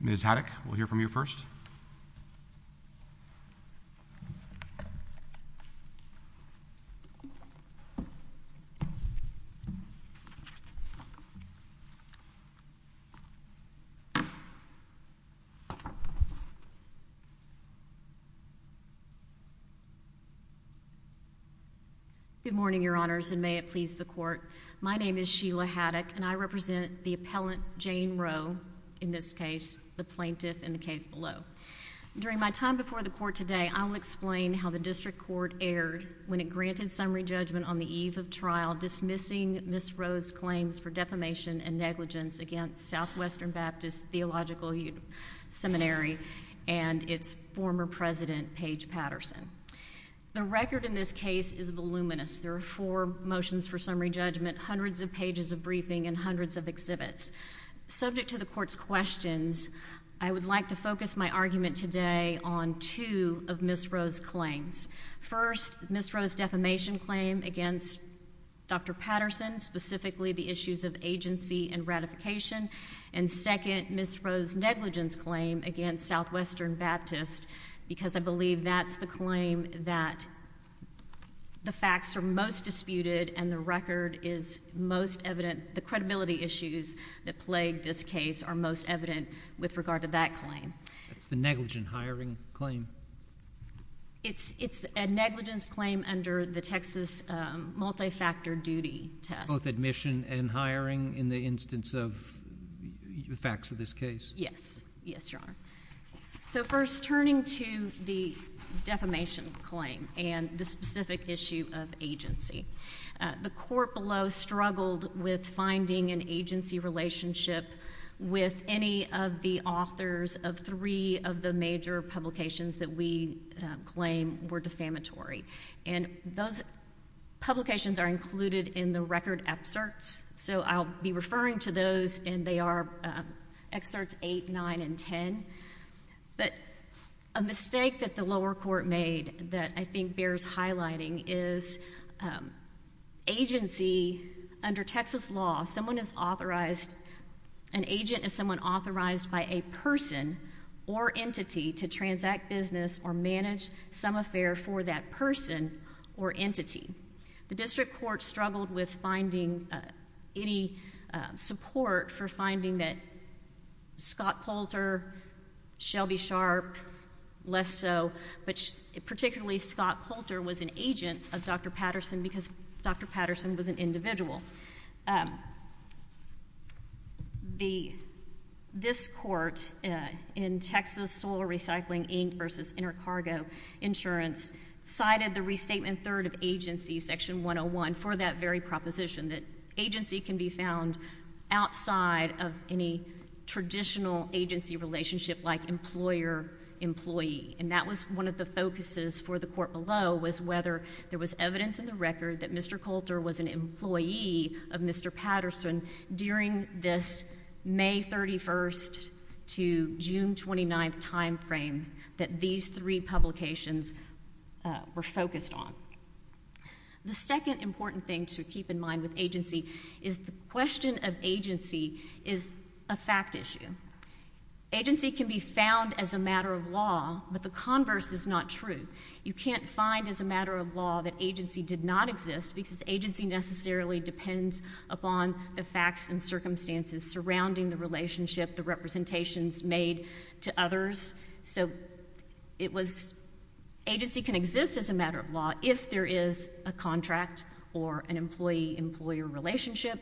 Ms. Haddock, we'll hear from you first. Good morning, Your Honors, and may it please the Court. My name is Sheila Haddock and I represent the appellant, Jane Roe, in this case, the plaintiff in the case below. During my time before the Court today, I will explain how the District Court erred when it granted summary judgment on the eve of trial dismissing Ms. Roe's claims for defamation and negligence against Southwestern Baptist Theological Seminary and its former president, Paige Patterson. The record in this case is voluminous. There are four motions for summary briefing and hundreds of exhibits. Subject to the Court's questions, I would like to focus my argument today on two of Ms. Roe's claims. First, Ms. Roe's defamation claim against Dr. Patterson, specifically the issues of agency and ratification. And second, Ms. Roe's negligence claim against Southwestern Baptist, because I believe that's the claim that the facts are most disputed and the record is most evident. The credibility issues that plagued this case are most evident with regard to that claim. That's the negligent hiring claim? It's a negligence claim under the Texas multi-factor duty test. Both admission and hiring in the instance of the facts of this case? Yes. Yes, Your Honor. So first, turning to the defamation claim and the specific issue of agency, the Court below struggled with finding an agency relationship with any of the authors of three of the major publications that we claim were defamatory. And those publications are included in the record excerpts, so I'll be referring to those, and they are excerpts 8, 9, and 10. But a mistake that the lower court made that I think bears highlighting is agency, under Texas law, someone is authorized, an agent is someone authorized by a person or entity to transact business or manage some affair for that person or entity. The District Court struggled with finding any support for finding that Scott Coulter, Shelby Sharp, less so, but particularly Scott Coulter was an agent of Dr. Patterson because Dr. Patterson was an individual. This Court in Texas Soil Recycling Inc. v. Intercargo Insurance cited the restatement third of agency, section 101, for that very proposition, that agency can be found outside of any traditional agency relationship like employer-employee. And that was one of the focuses for the Court below was whether there was evidence in the record that Mr. Coulter was an employee of Mr. Patterson during this May 31st to June 29th time frame that these three publications were focused on. The second important thing to keep in mind with agency is the question of agency is a fact issue. Agency can be found as a matter of law, but the converse is not true. You can't find as a matter of law that agency did not exist because agency necessarily depends upon the facts and circumstances surrounding the relationship, the representations made to others. So it was agency can exist as a matter of law if there is a contract or an employee-employer relationship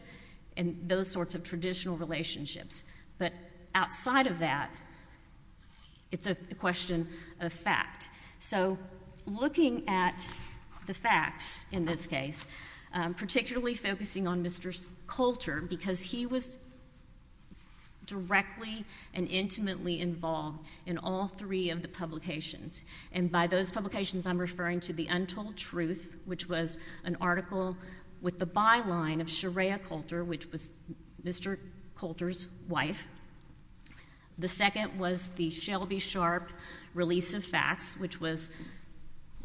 and those sorts of traditional relationships. But outside of that, it's a question of fact. So looking at the facts in this case, particularly focusing on Mr. Coulter because he was the person who directly and intimately involved in all three of the publications, and by those publications I'm referring to the Untold Truth, which was an article with the byline of Sherea Coulter, which was Mr. Coulter's wife. The second was the Shelby Sharp release of facts, which was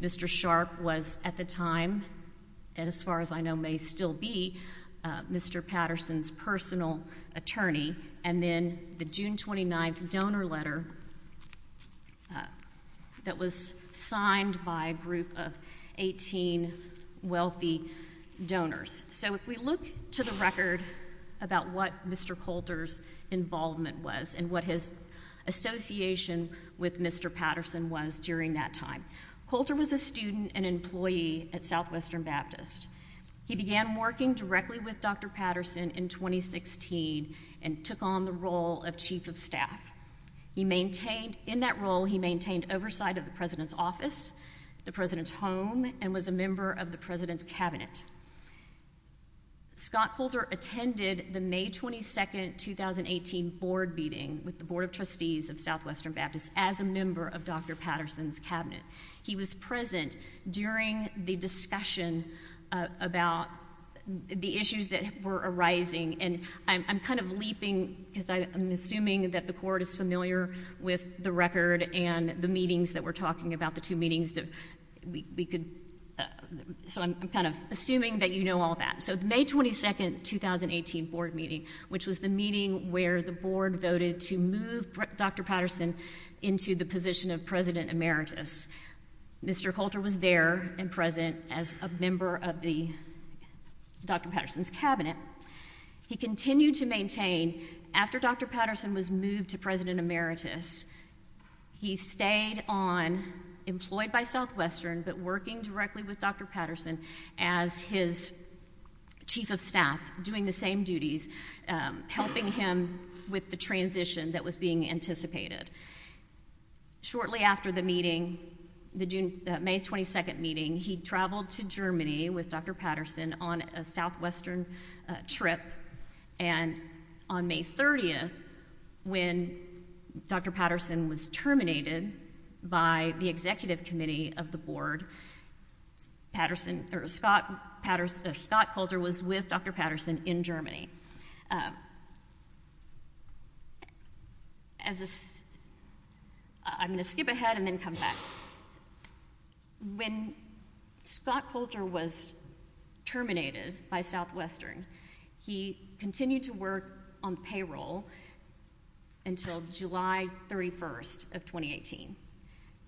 Mr. Sharp was at the time, and as far as I know may still be, Mr. Patterson's personal attorney, and then the June 29th donor letter that was signed by a group of 18 wealthy donors. So if we look to the record about what Mr. Coulter's involvement was and what his association with Mr. Patterson was during that time, Coulter was a student and employee at Southwestern Baptist. He began working directly with Dr. Patterson in 2016 and took on the role of chief of staff. In that role, he maintained oversight of the president's office, the president's home, and was a member of the president's cabinet. Scott Coulter attended the May 22nd, 2018 board meeting with the Board of Trustees of Southwestern Baptist as a member of Dr. Patterson's cabinet. He was present during the discussion about the issues that were arising, and I'm kind of leaping because I'm assuming that the Court is familiar with the record and the meetings that we're talking about, the two meetings that we could—so I'm kind of assuming that you know all that. So the May 22nd, 2018 board meeting, which was the meeting where the board voted to move Dr. Patterson into the position of president emeritus. Mr. Coulter was there and present as a member of Dr. Patterson's cabinet. He continued to maintain, after Dr. Patterson was moved to president emeritus, he stayed on, employed by Southwestern, but working directly with Dr. Patterson as his chief of staff, doing the same duties, helping him with the transition that was being anticipated. Shortly after the meeting, the May 22nd meeting, he traveled to Germany with Dr. Patterson on a Southwestern trip, and on May 30th, when Dr. Patterson was terminated by the executive committee, Scott Coulter was with Dr. Patterson in Germany. As a—I'm going to skip ahead and then come back. When Scott Coulter was terminated by Southwestern, he continued to work on payroll until July 31st of 2018,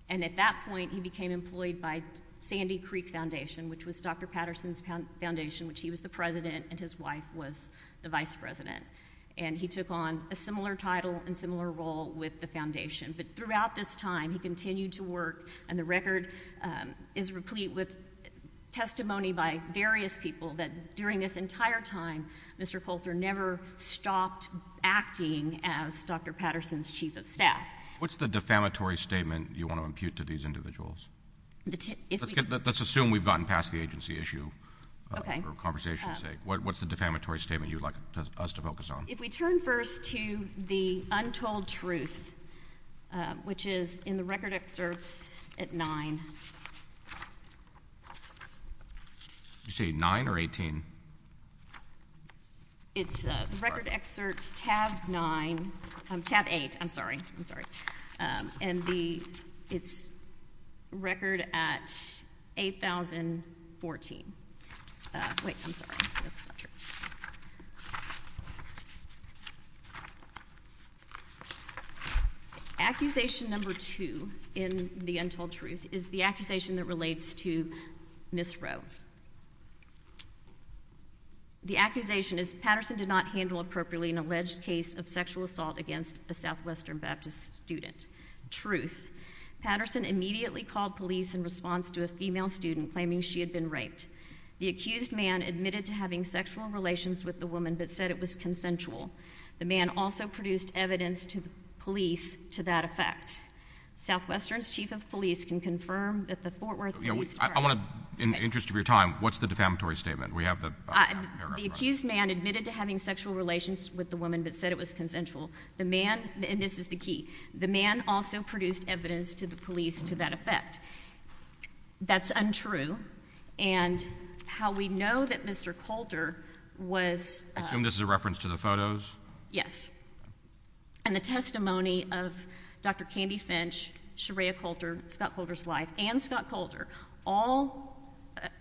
and at that point, he became employed by Sandy Foundation, which he was the president and his wife was the vice president. And he took on a similar title and similar role with the foundation. But throughout this time, he continued to work, and the record is replete with testimony by various people that during this entire time, Mr. Coulter never stopped acting as Dr. Patterson's chief of staff. What's the defamatory statement you want to impute to these individuals? Let's assume we've gotten past the agency issue for conversation's sake. What's the defamatory statement you'd like us to focus on? If we turn first to the untold truth, which is in the record excerpts at 9. Did you say 9 or 18? It's the record excerpts tab 9—tab 8, I'm sorry. I'm sorry. And the—it's record at 8,014. Wait, I'm sorry. That's not true. Accusation number two in the untold truth is the accusation that relates to Ms. Rose. The accusation is Patterson did not handle appropriately an alleged case of sexual assault against a Southwestern Baptist student. Truth. Patterson immediately called police in response to a female student claiming she had been raped. The accused man admitted to having sexual relations with the woman, but said it was consensual. The man also produced evidence to the police to that effect. Southwestern's chief of police can confirm that the Fort Worth Police Department— I want to—in the interest of your time, what's the defamatory statement? We have the paragraph— The accused man admitted to having sexual relations with the woman, but said it was consensual. The man—and this is the key—the man also produced evidence to the police to that effect. That's untrue. And how we know that Mr. Coulter was— I assume this is a reference to the photos? Yes. And the testimony of Dr. Candy Finch, Sherea Coulter, Scott Coulter's wife, and Scott Coulter, all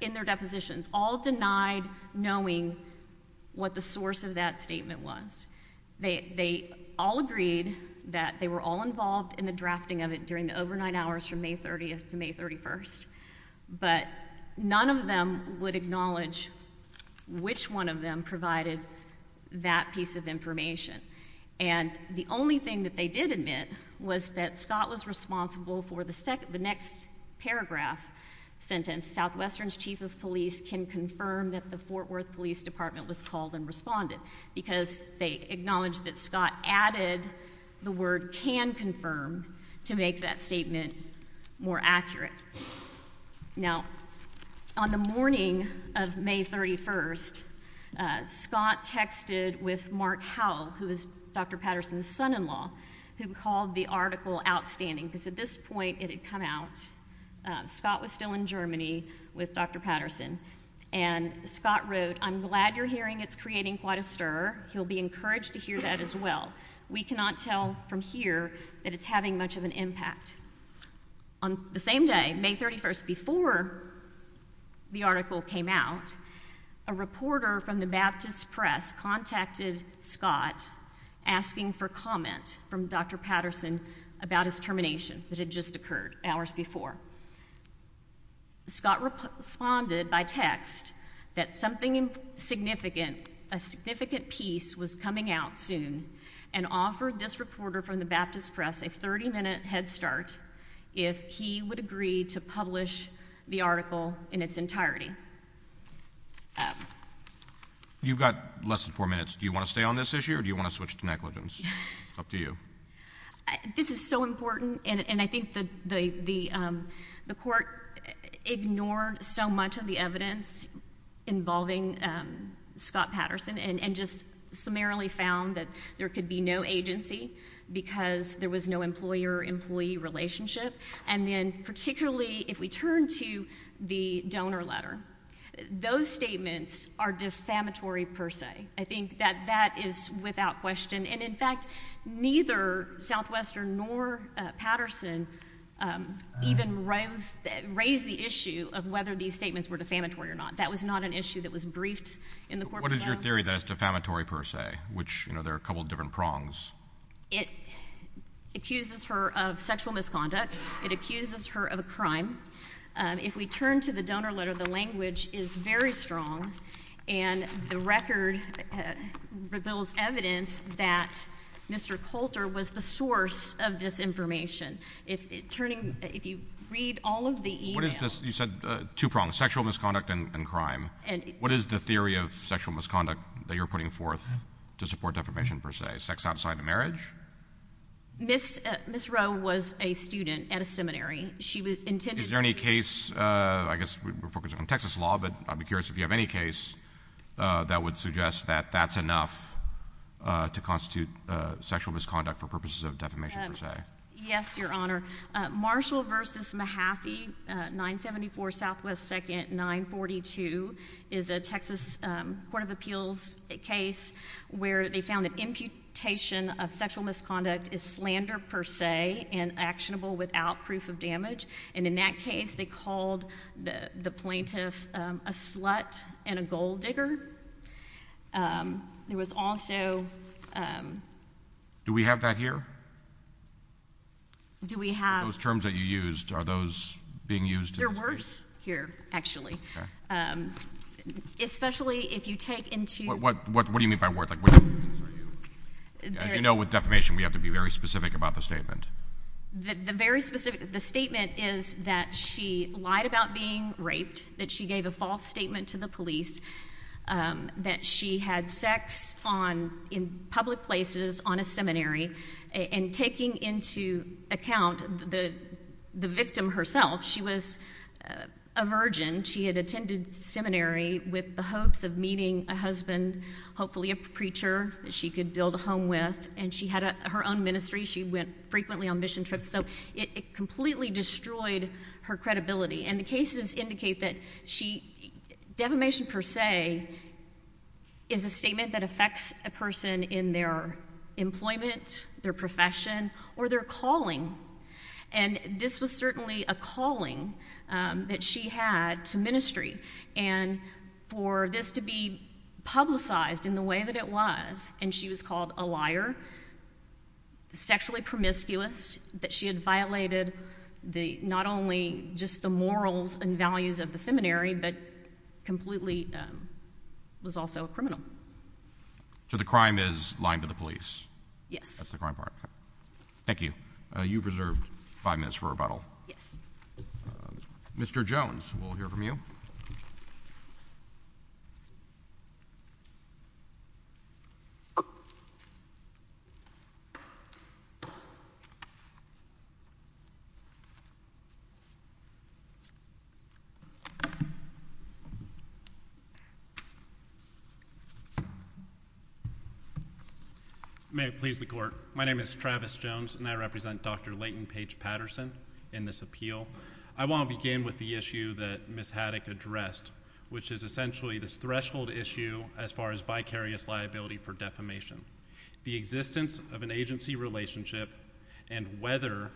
in their depositions, all denied knowing what the source of that statement was. They all agreed that they were all involved in the drafting of it during the overnight hours from May 30th to May 31st, but none of them would acknowledge which one of them provided that piece of information. And the only thing that they did admit was that Scott was responsible for the next paragraph sentence, Southwestern's chief of police can confirm that the Fort Worth Police Department was called and responded, because they acknowledged that Scott added the word can confirm to make that statement more accurate. Now, on the morning of May 31st, Scott texted with Mark Howell, who was Dr. Patterson's son-in-law, who called the article outstanding, because at this point it had come out. Scott was still in Germany with Dr. Patterson, and Scott wrote, I'm glad you're hearing it's creating quite a stir. He'll be encouraged to hear that as well. We cannot tell from here that it's having much of an impact. On the same day, May 31st, before the article came out, a reporter from the Baptist Press contacted Scott asking for comment from Dr. Patterson about his termination that had just occurred, hours before. Scott responded by text that something significant, a significant piece was coming out soon, and offered this reporter from the Baptist Press a 30-minute head start if he would agree to publish the article in its entirety. You've got less than four minutes. Do you want to stay on this issue, or do you want to switch to negligence? It's up to you. This is so important, and I think the court ignored so much of the evidence involving Scott Patterson, and just summarily found that there could be no agency, because there was no employer-employee relationship. And then particularly, if we turn to the donor letter, those statements are defamatory per se. I think that that is without question, and in fact, neither Southwestern nor Patterson even raised the issue of whether these statements were defamatory or not. That was not an issue that was briefed in the court. What is your theory that it's defamatory per se, which, you know, there are a couple of different prongs? It accuses her of sexual misconduct. It accuses her of a crime. If we turn to the donor letter, the language is very strong, and the record reveals evidence that Mr. Coulter was the source of this information. If you read all of the e-mails— What is this—you said two prongs, sexual misconduct and crime. What is the theory of sexual misconduct that you're putting forth to support defamation per se, sex outside of marriage? Ms. Rowe was a student at a seminary. She was intended to— Is there any case—I guess we're focusing on Texas law, but I'd be curious if you have any case that would suggest that that's enough to constitute sexual misconduct for purposes of defamation per se. Yes, Your Honor. Marshall v. Mahaffey, 974 SW 2nd 942 is a Texas Court of Appeals case where they found that imputation of sexual misconduct is slander per se and actionable without proof of damage. And in that case, they called the plaintiff a slut and a gold digger. There was also— Do we have that here? Do we have— Those terms that you used, are those being used— They're worse here, actually. Especially if you take into— What do you mean by worse? As you know, with defamation, we have to be very specific about the statement. The very specific—the statement is that she lied about being raped, that she gave a false statement to the police, that she had sex in public places on a seminary. And taking into account the victim herself, she was a virgin. She had attended seminary with the hopes of meeting a husband, hopefully a preacher that she could build a home with. And she had her own ministry. She went frequently on mission trips. So it completely destroyed her credibility. And the cases indicate that she—defamation per se is a statement that affects a person in their employment, their profession, or their calling. And this was certainly a calling that she had to ministry. And for this to be publicized in the way that it was—and she was called a liar, sexually promiscuous, that she had violated the—not only just the morals and values of the seminary, but completely was also a criminal. So the crime is lying to the police. Yes. That's the crime part. Thank you. You've reserved five minutes for rebuttal. Yes. Mr. Jones, we'll hear from you. Mr. Jones. May it please the Court. My name is Travis Jones, and I represent Dr. Layton Paige Patterson in this appeal. I want to begin with the issue that Ms. Haddock addressed, which is essentially this threshold issue as far as vicarious liability for defamation. The existence of an agency relationship and whether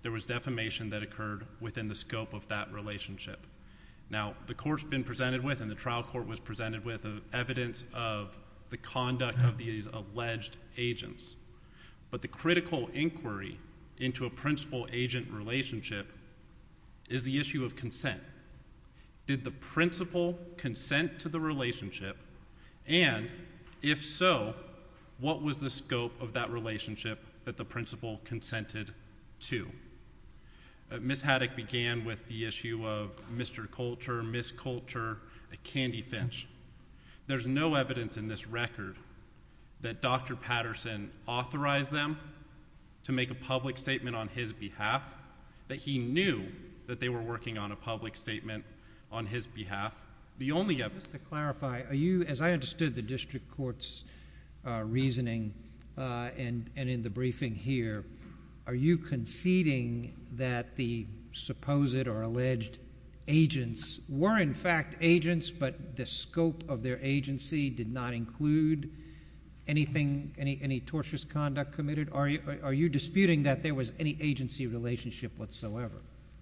there was defamation that occurred within the scope of that relationship. Now the Court's been presented with, and the trial court was presented with, evidence of the conduct of these alleged agents. But the critical inquiry into a principal-agent relationship is the issue of consent. Did the principal consent to the relationship? And, if so, what was the scope of that relationship that the principal consented to? Ms. Haddock began with the issue of Mr. Coulter, Ms. Coulter, a candy finch. There's no evidence in this record that Dr. Patterson authorized them to make a public statement on his behalf, that he knew that they were working on a public statement on his behalf. The only evidence— Just to clarify, are you—as I understood the district court's reasoning and in the briefing here, are you conceding that the supposed or alleged agents were in fact agents, but the scope of their agency did not include anything, any tortious conduct committed? Are you disputing that there was any agency relationship whatsoever?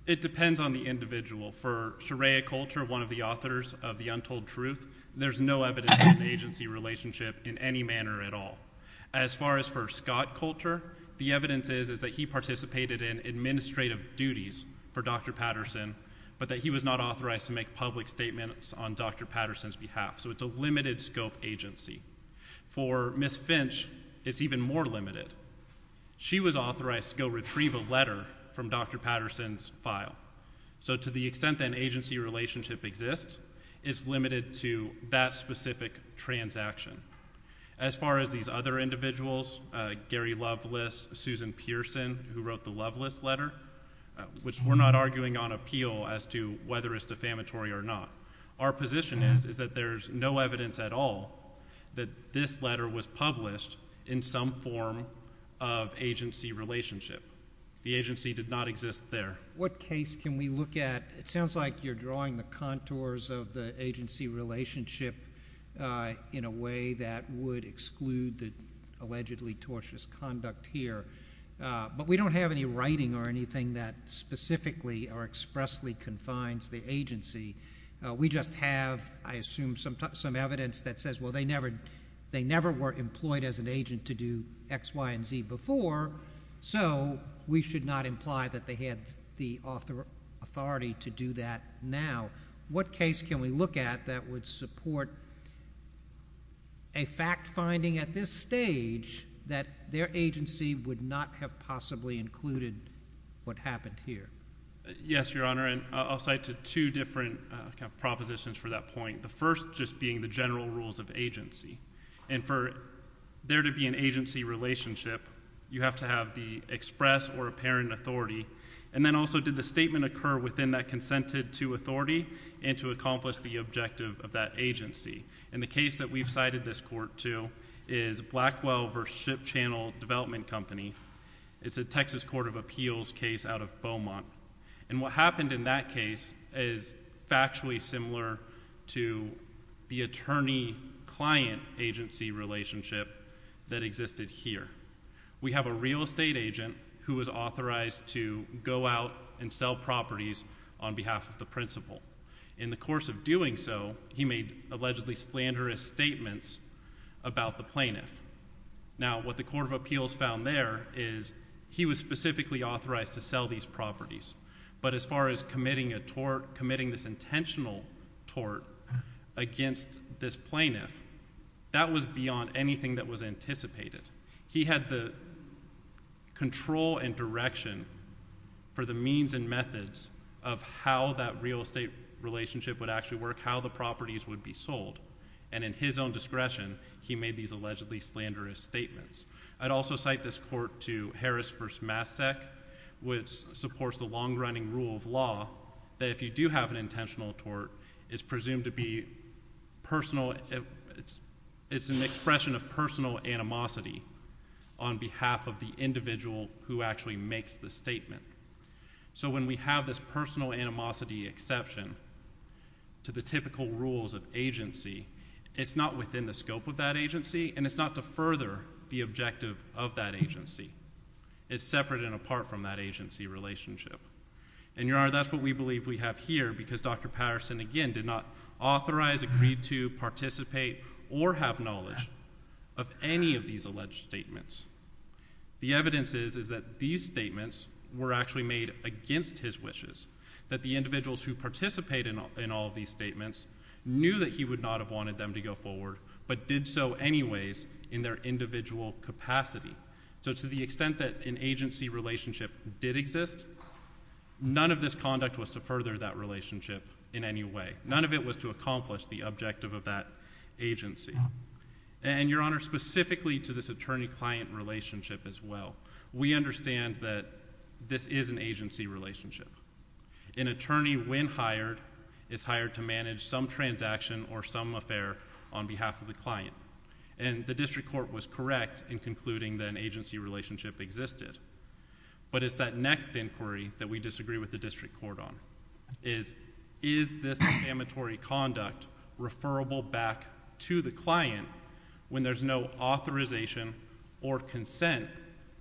It depends on the individual. For Sherea Coulter, one of the authors of The Untold Truth, there's no evidence of an agency relationship in any manner at all. As far as for Scott Coulter, the evidence is that he participated in administrative duties for Dr. Patterson, but that he was not authorized to make public statements on Dr. Patterson's behalf. So it's a limited scope agency. For Ms. Finch, it's even more limited. She was authorized to go retrieve a letter from Dr. Patterson's file. So to the extent that an agency relationship exists, it's limited to that specific transaction. As far as these other individuals, Gary Loveless, Susan Pearson, who wrote the Loveless letter, which we're not arguing on appeal as to whether it's defamatory or not. Our position is that there's no evidence at all that this letter was published in some form of agency relationship. The agency did not exist there. What case can we look at? It sounds like you're drawing the contours of the agency relationship in a way that would exclude the allegedly tortious conduct here. But we don't have any writing or anything that specifically or expressly confines the agency. We just have, I assume, some evidence that says, well, they never were employed as an agent to do X, Y, and Z before, so we should not imply that they had the authority to do that now. What case can we look at that would support a fact-finding at this stage that their agency would not have possibly included what happened here? Yes, Your Honor, and I'll cite two different propositions for that point, the first just being the general rules of agency. And for there to be an agency relationship, you have to have the express or apparent authority. And then also, did the statement occur within that consented to authority and to accomplish the objective of that agency? And the case that we've cited this court to is Blackwell v. Ship Channel Development Company. It's a Texas Court of Appeals case out of Beaumont. And what happened in that case is factually similar to the attorney-client agency relationship that existed here. We have a real estate agent who was authorized to go out and sell properties on behalf of the principal. In the course of doing so, he made allegedly slanderous statements about the plaintiff. Now, what the Court of Appeals found there is he was specifically authorized to sell these properties. But as far as committing a tort, committing this intentional tort against this plaintiff, that was beyond anything that was anticipated. He had the control and direction for the means and methods of how that real estate relationship would actually work, how the properties would be sold. And in his own discretion, he made these allegedly slanderous statements. I'd also cite this court to Harris v. Mastek, which supports the long-running rule of law that if you do have an intentional tort, it's presumed to be personal. It's an expression of personal animosity on behalf of the individual who actually makes the statement. So when we have this personal animosity exception to the typical rules of agency, it's not within the scope of that agency, and it's not to further the objective of that agency. It's separate and apart from that agency relationship. And, Your Honor, that's what we believe we have here, because Dr. Patterson, again, did not authorize, agreed to, participate, or have knowledge of any of these alleged statements. The evidence is that these statements were actually made against his wishes, that the individuals who participated in all of these statements knew that he would not have wanted them to go forward, but did so anyways in their individual capacity. So to the extent that an agency relationship did exist, none of this conduct was to further that relationship in any way. None of it was to accomplish the objective of that agency. And, Your Honor, specifically to this attorney-client relationship as well, we understand that this is an agency relationship. An attorney, when hired, is hired to manage some transaction or some affair on behalf of the client. And the district court was correct in concluding that an agency relationship existed. But it's that next inquiry that we disagree with the district court on, is, is this amatory conduct referable back to the client when there's no authorization or consent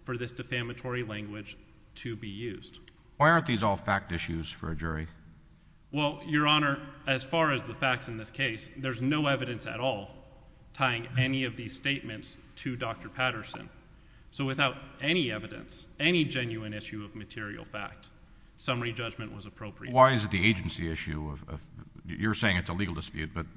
for this defamatory language to be used? Why aren't these all fact issues for a jury? Well, Your Honor, as far as the facts in this case, there's no evidence at all tying any of these statements to Dr. Patterson. So without any evidence, any genuine issue of material fact, summary judgment was appropriate. Why is it the agency issue of, you're saying it's a legal dispute, but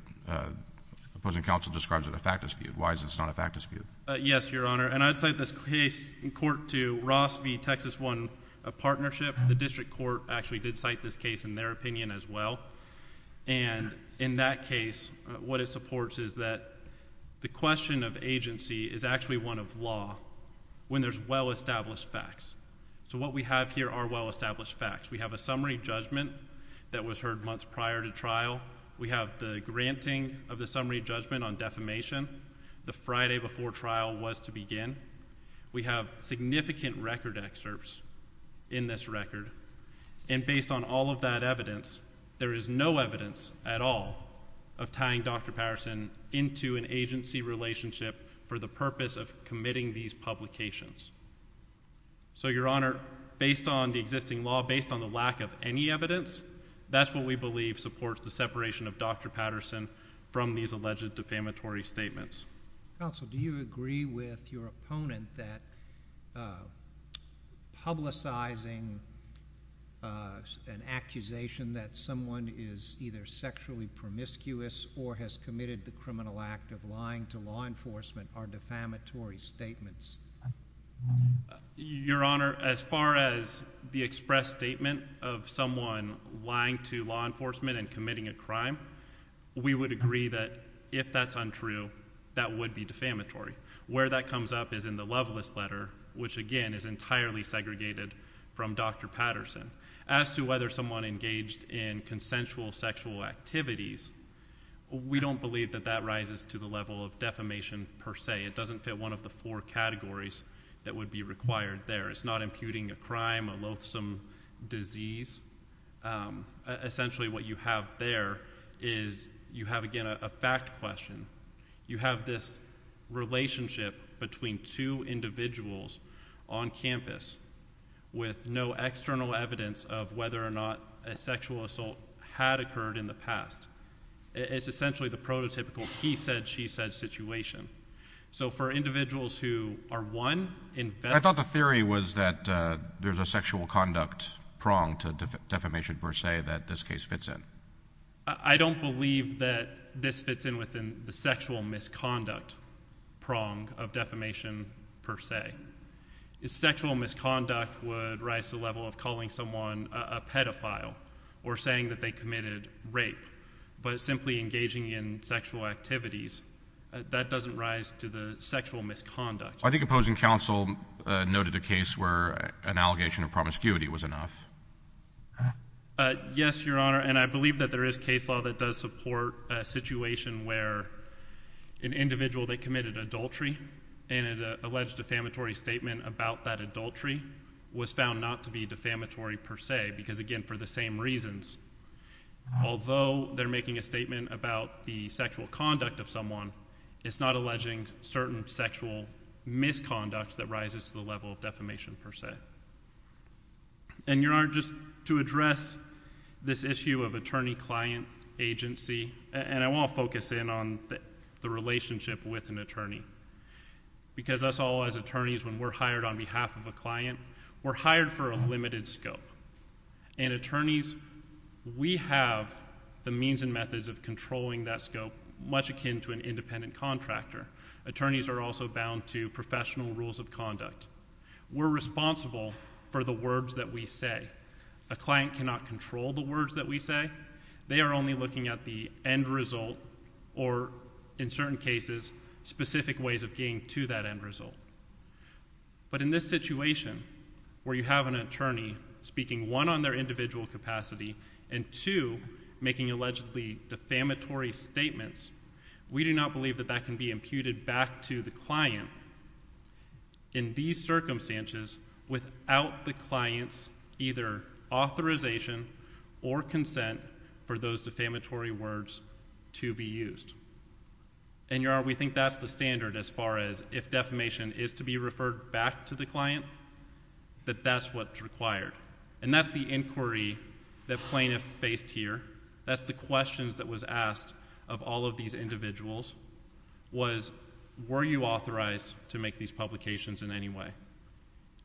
opposing counsel describes it a fact dispute. Why is it not a fact dispute? Yes, Your Honor. And I'd cite this case in court to Ross v. Texas One Partnership. The district court actually did cite this case in their opinion as well. And in that case, what it supports is that the question of agency is actually one of law when there's well-established facts. So what we have here are well-established facts. We have a summary judgment that was heard months prior to trial. We have the granting of the summary judgment on defamation the Friday before trial was to begin. We have significant record excerpts in this record. And based on all of that evidence, there is no evidence at all of tying Dr. Patterson into an agency relationship for the purpose of committing these publications. So Your Honor, based on the existing law, based on the lack of any evidence, that's what we believe supports the separation of Dr. Patterson from these alleged defamatory statements. Counsel, do you agree with your opponent that publicizing an accusation that someone is either sexually promiscuous or has committed the criminal act of lying to law enforcement are defamatory statements? Your Honor, as far as the expressed statement of someone lying to law enforcement and committing a crime, we would agree that if that's untrue, that would be defamatory. Where that comes up is in the Loveless Letter, which again is entirely segregated from Dr. Patterson. As to whether someone engaged in consensual sexual activities, we don't believe that that rises to the level of defamation per se. It doesn't fit one of the four categories that would be required there. It's not imputing a crime, a loathsome disease. Essentially what you have there is you have again a fact question. You have this relationship between two individuals on campus with no external evidence of whether or not a sexual assault had occurred in the past. It's essentially the prototypical he said, she said situation. So for individuals who are one, in fact... I thought the theory was that there's a sexual conduct prong to defamation per se that this fits in. I don't believe that this fits in within the sexual misconduct prong of defamation per se. Sexual misconduct would rise to the level of calling someone a pedophile or saying that they committed rape. But simply engaging in sexual activities, that doesn't rise to the sexual misconduct. I think opposing counsel noted a case where an allegation of promiscuity was enough. Yes, Your Honor, and I believe that there is case law that does support a situation where an individual that committed adultery and an alleged defamatory statement about that adultery was found not to be defamatory per se because again for the same reasons. Although they're making a statement about the sexual conduct of someone, it's not alleging certain sexual misconduct that rises to the level of defamation per se. And Your Honor, just to address this issue of attorney-client agency, and I want to focus in on the relationship with an attorney. Because us all as attorneys, when we're hired on behalf of a client, we're hired for a limited scope. And attorneys, we have the means and methods of controlling that scope much akin to an independent contractor. Attorneys are also bound to professional rules of conduct. We're responsible for the words that we say. A client cannot control the words that we say. They are only looking at the end result or in certain cases, specific ways of getting to that end result. But in this situation where you have an attorney speaking one, on their individual capacity, and two, making allegedly defamatory statements, we do not believe that that can be imputed back to the client. In these circumstances, without the client's either authorization or consent for those defamatory words to be used. And Your Honor, we think that's the standard as far as if defamation is to be referred back to the client, that that's what's required. And that's the inquiry that plaintiff faced here. That's the questions that was asked of all of these individuals was, were you authorized to make these publications in any way?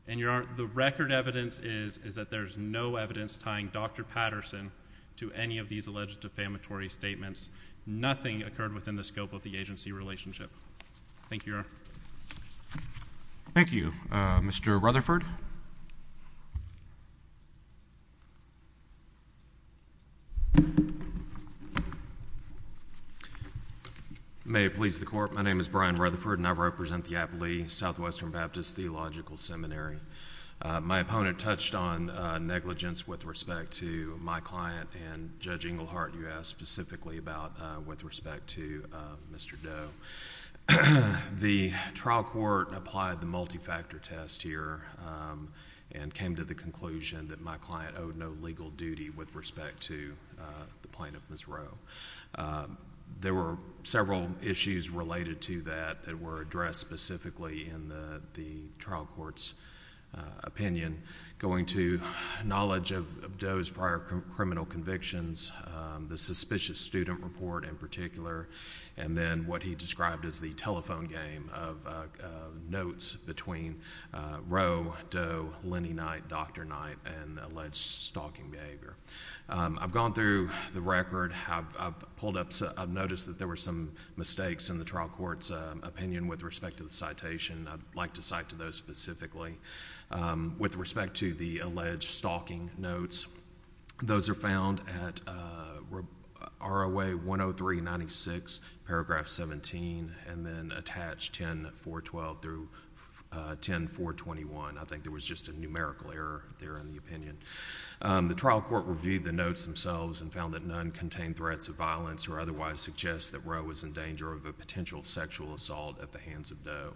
And Your Honor, the record evidence is that there's no evidence tying Dr. Patterson to any of these alleged defamatory statements. Nothing occurred within the scope of the agency relationship. Thank you, Your Honor. Thank you. Mr. Rutherford? May it please the Court, my name is Brian Rutherford and I represent the Applee Southwestern Baptist Theological Seminary. My opponent touched on negligence with respect to my client and Judge Englehart, you asked specifically about with respect to Mr. Doe. The trial court applied the multi-factor test here and came to the conclusion that my client owed no legal duty with respect to the plaintiff, Ms. Rowe. There were several issues related to that that were addressed specifically in the trial court's opinion. Going to knowledge of Doe's prior criminal convictions, the suspicious student report in particular, and then what he described as the telephone game of notes between Rowe, Doe, Lenny Knight, Dr. Knight and alleged stalking behavior. I've gone through the record, I've noticed that there were some mistakes in the trial court's opinion with respect to the citation. I'd like to cite those specifically. With respect to the alleged stalking notes, those are found at ROA 103-96, paragraph 17, and then attached 10-412 through 10-421. I think there was just a numerical error there in the opinion. The trial court reviewed the notes themselves and found that none contained threats of violence or otherwise suggest that Rowe was in danger of a potential sexual assault at the hands of Doe.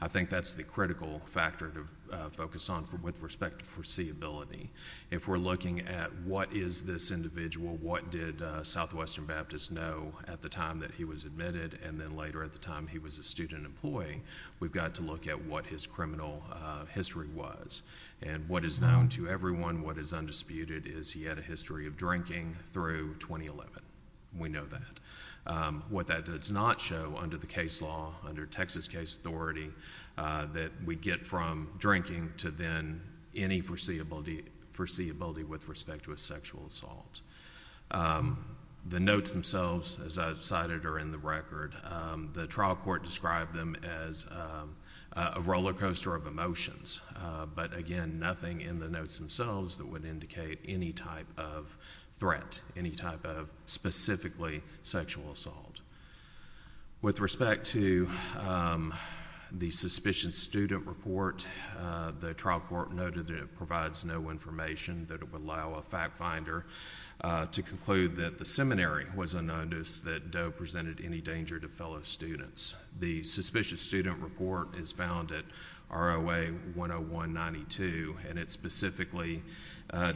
I think that's the critical factor to focus on with respect to foreseeability. If we're looking at what is this individual, what did Southwestern Baptist know at the time that he was admitted and then later at the time he was a student employee, we've got to look at what his criminal history was. What is known to everyone, what is undisputed, is he had a history of drinking through 2011. We know that. What that does not show under the case law, under Texas case authority, that we get from drinking to then any foreseeability with respect to a sexual assault. The notes themselves, as I cited, are in the record. The trial court described them as a rollercoaster of emotions, but again, nothing in the notes themselves that would indicate any type of threat, any type of specifically sexual assault. With respect to the Suspicion Student Report, the trial court noted that it provides no information that it would allow a fact finder to conclude that the seminary was unknown to us, that Doe presented any danger to fellow students. The Suspicious Student Report is found at ROA 101-92, and it specifically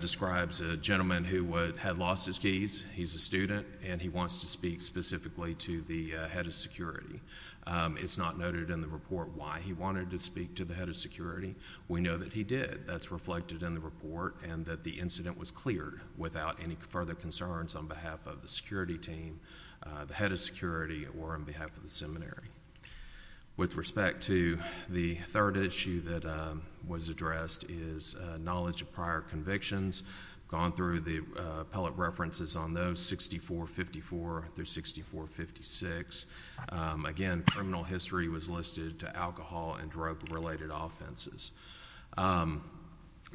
describes a gentleman who had lost his keys. He's a student, and he wants to speak specifically to the head of security. It's not noted in the report why he wanted to speak to the head of security. We know that he did. That's reflected in the report, and that the incident was cleared without any further concerns on behalf of the security team, the head of security, or on behalf of the seminary. With respect to the third issue that was addressed is knowledge of prior convictions. Gone through the appellate references on those, 6454 through 6456. Again, criminal history was listed to alcohol and drug-related offenses.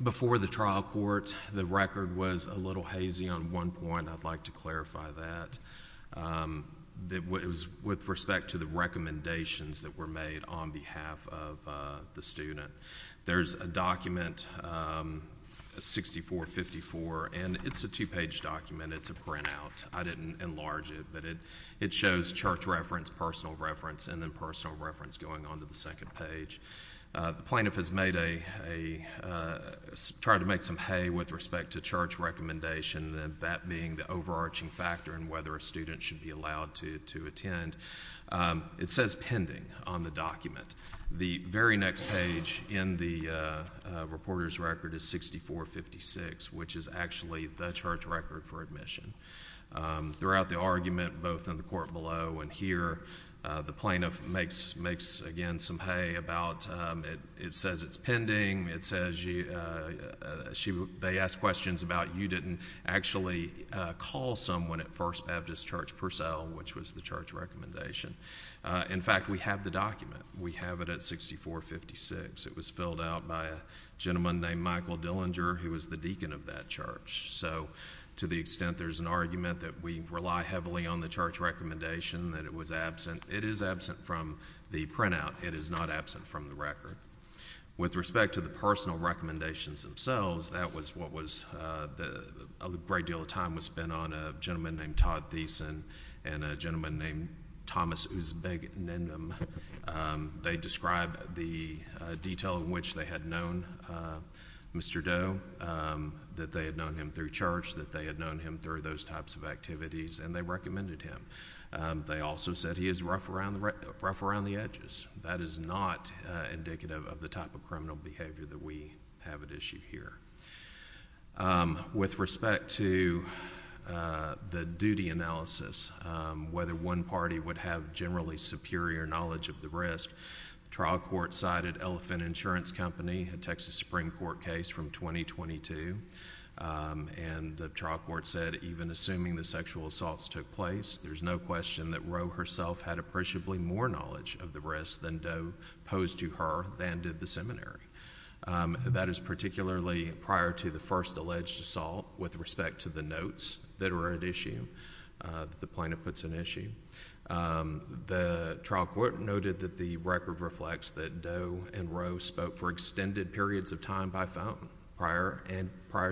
Before the trial court, the record was a little hazy on one point. I'd like to clarify that. With respect to the recommendations that were made on behalf of the student, there's a document 6454, and it's a two-page document. It's a printout. I didn't enlarge it, but it shows church reference, personal reference, and then personal reference going on to the second page. The plaintiff has made a, tried to make some hay with respect to church recommendation, that being the overarching factor in whether a student should be allowed to attend. It says pending on the document. The very next page in the reporter's record is 6456, which is actually the church record for admission. Throughout the argument, both in the court below and here, the plaintiff makes, again, some hay about, it says it's pending. It says they ask questions about you didn't actually call someone at First Baptist Church Purcell, which was the church recommendation. In fact, we have the document. We have it at 6456. It was filled out by a gentleman named Michael Dillinger, who was the deacon of that church. To the extent there's an argument that we rely heavily on the church recommendation, that it was absent, it is absent from the printout. It is not absent from the record. With respect to the personal recommendations themselves, that was what was, a great deal of time was spent on a gentleman named Todd Thiessen and a gentleman named Thomas Uzbeginim. They described the detail in which they had known Mr. Doe, that they had known him through church, that they had known him through those types of activities, and they recommended him. They also said he is rough around the edges. That is not indicative of the type of criminal behavior that we have at issue here. With respect to the duty analysis, whether one party would have generally superior knowledge of the risk, the trial court cited Elephant Insurance Company, a Texas Supreme Court case from 2022, and the trial court said, even assuming the sexual assaults took place, there's no question that Roe herself had appreciably more knowledge of the risk than Doe posed to her and did the seminary. That is particularly prior to the first alleged assault. With respect to the notes that are at issue, the plaintiff puts an issue. The trial court noted that the record reflects that Doe and Roe spoke for extended periods of time by phone prior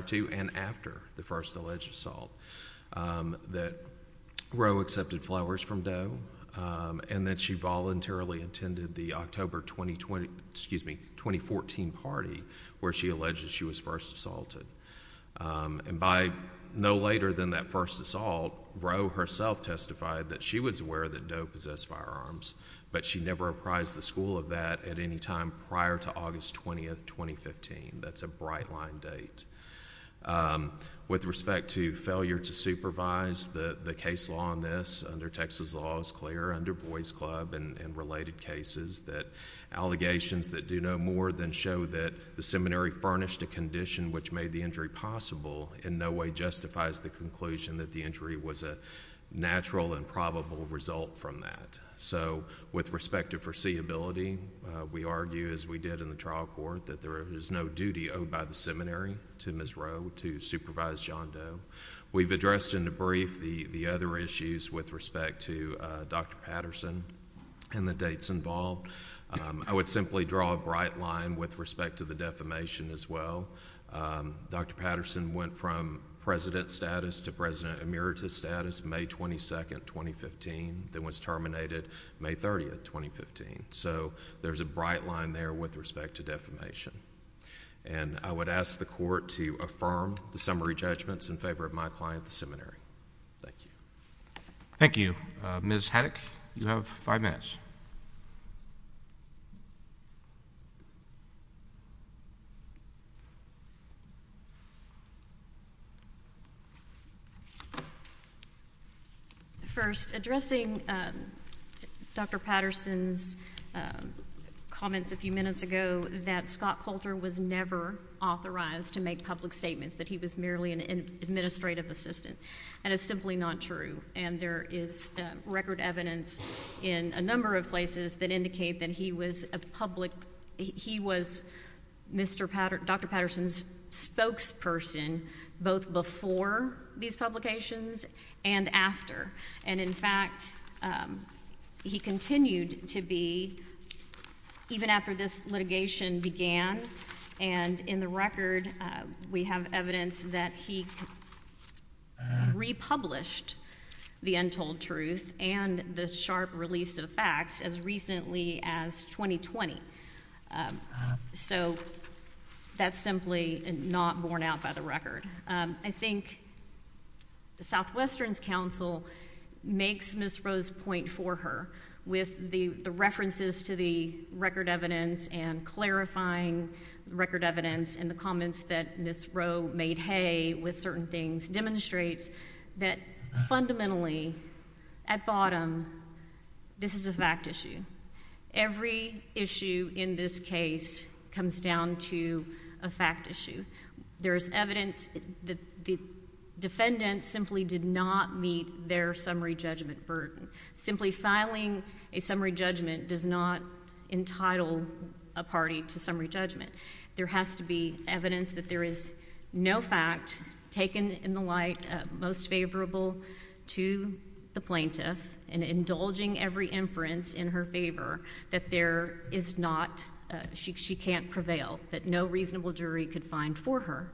to and after the first alleged assault, that Roe accepted flowers from Doe, and that she voluntarily attended the October 2014 party where she alleged she was first assaulted. By no later than that first assault, Roe herself testified that she was aware that Doe possessed firearms, but she never apprised the school of that at any time prior to August 20, 2015. That's a bright line date. With respect to failure to supervise, the case law on this under Texas law is clear under Boys Club and related cases that allegations that do no more than show that the seminary furnished a condition which made the injury possible in no way justifies the conclusion that the injury was a natural and probable result from that. With respect to foreseeability, we argue, as we did in the trial court, that there is no duty owed by the seminary to Ms. Roe to supervise John Doe. We've addressed in the brief the other issues with respect to Dr. Patterson and the dates involved. I would simply draw a bright line with respect to the defamation as well. Dr. Patterson went from president status to president emeritus status May 22, 2015, then was terminated May 30, 2015. So there's a bright line there with respect to defamation. And I would ask the court to affirm the summary judgments in favor of my client, the seminary. Thank you. Thank you. Ms. Haddock, you have five minutes. First, addressing Dr. Patterson's comments a few minutes ago that Scott Coulter was never authorized to make public statements, that he was merely an administrative assistant. And it's simply not true. And there is record evidence in a number of places that indicate that he was a public, he was Mr. Patterson, Dr. Patterson's spokesperson, both before these publications and after. And in fact, he continued to be, even after this litigation began. And in the record, we have evidence that he republished the untold truth and the sharp release of facts as recently as 2020. So that's simply not borne out by the record. I think the Southwestern's counsel makes Ms. Rose's point for her with the references to the record evidence and clarifying record evidence and the comments that Ms. Roe made hay with certain things demonstrates that fundamentally, at bottom, this is a fact issue. Every issue in this case comes down to a fact issue. There is evidence that the defendants simply did not meet their summary judgment burden. Simply filing a summary judgment does not entitle a party to summary judgment. There has to be evidence that there is no fact taken in the light most favorable to the plaintiff and indulging every inference in her favor that there is not, she can't prevail, that no reasonable jury could find for her.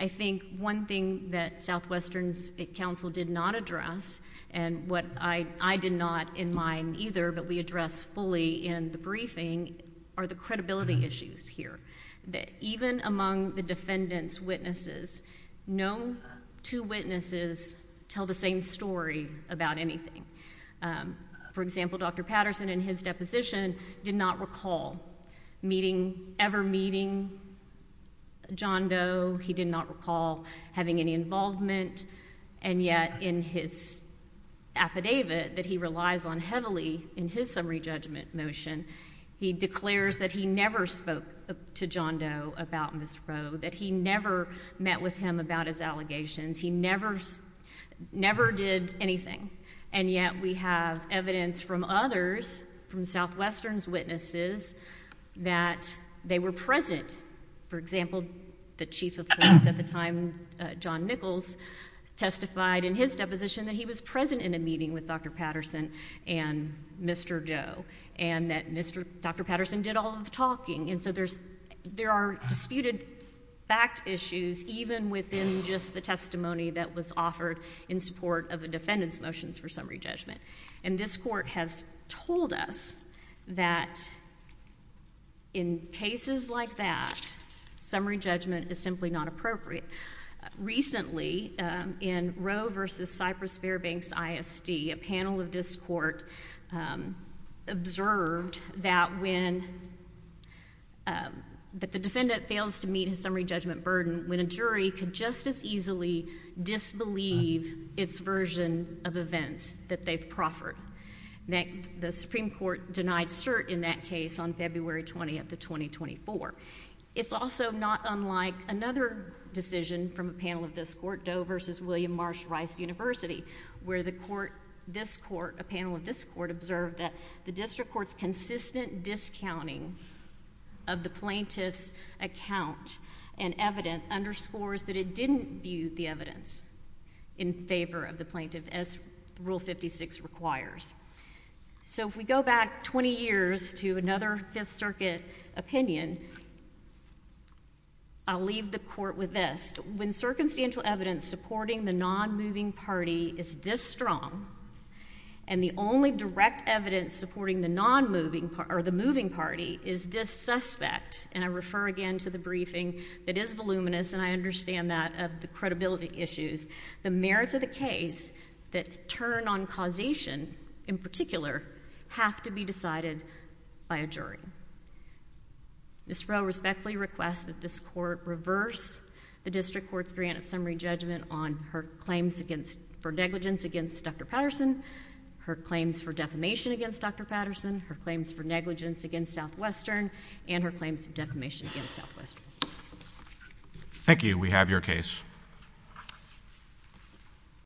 I think one thing that Southwestern's counsel did not address, and what I did not in mind either, but we addressed fully in the briefing, are the credibility issues here, that even among the defendant's witnesses, no two witnesses tell the same story about anything. For example, Dr. Patterson in his deposition did not recall meeting, ever meeting John Doe. He did not recall having any involvement, and yet in his affidavit that he relies on heavily in his summary judgment motion, he declares that he never spoke to John Doe about Ms. Rowe, that he never met with him about his allegations. He never did anything, and yet we have evidence from others, from Southwestern's witnesses, that they were present. For example, the chief of police at the time, John Nichols, testified in his deposition that he was present in a meeting with Dr. Patterson and Mr. Doe, and that Dr. Patterson did all of the talking. And so there are disputed fact issues, even within just the testimony that was offered in support of the defendant's motions for summary judgment. And this Court has told us that in cases like that, summary judgment is simply not appropriate. Recently, in Rowe v. Cypress-Fairbanks ISD, a panel of this Court observed that when, that the defendant fails to meet his summary judgment burden, when a jury could just as easily disbelieve its version of events, that they've proffered. The Supreme Court denied cert in that case on February 20th of 2024. It's also not unlike another decision from a panel of this Court, Doe v. William Marsh Rice University, where the Court, this Court, a panel of this Court observed that the district court's consistent discounting of the plaintiff's account and evidence underscores that it didn't view the evidence in favor of the plaintiff, as Rule 56 requires. So if we go back 20 years to another Fifth Circuit opinion, I'll leave the Court with this. When circumstantial evidence supporting the nonmoving party is this strong, and the only direct evidence supporting the nonmoving, or the moving party, is this suspect, and I refer again to the briefing that is voluminous, and I understand that of the credibility issues, the merits of the case that turn on causation, in particular, have to be decided by a jury. Ms. Rowe respectfully requests that this Court reverse the district court's grant of summary judgment on her claims against, for negligence against Dr. Patterson, her claims for defamation against Dr. Patterson, her claims for negligence against Southwestern, and her claims for defamation against Southwestern. Thank you. We have your case.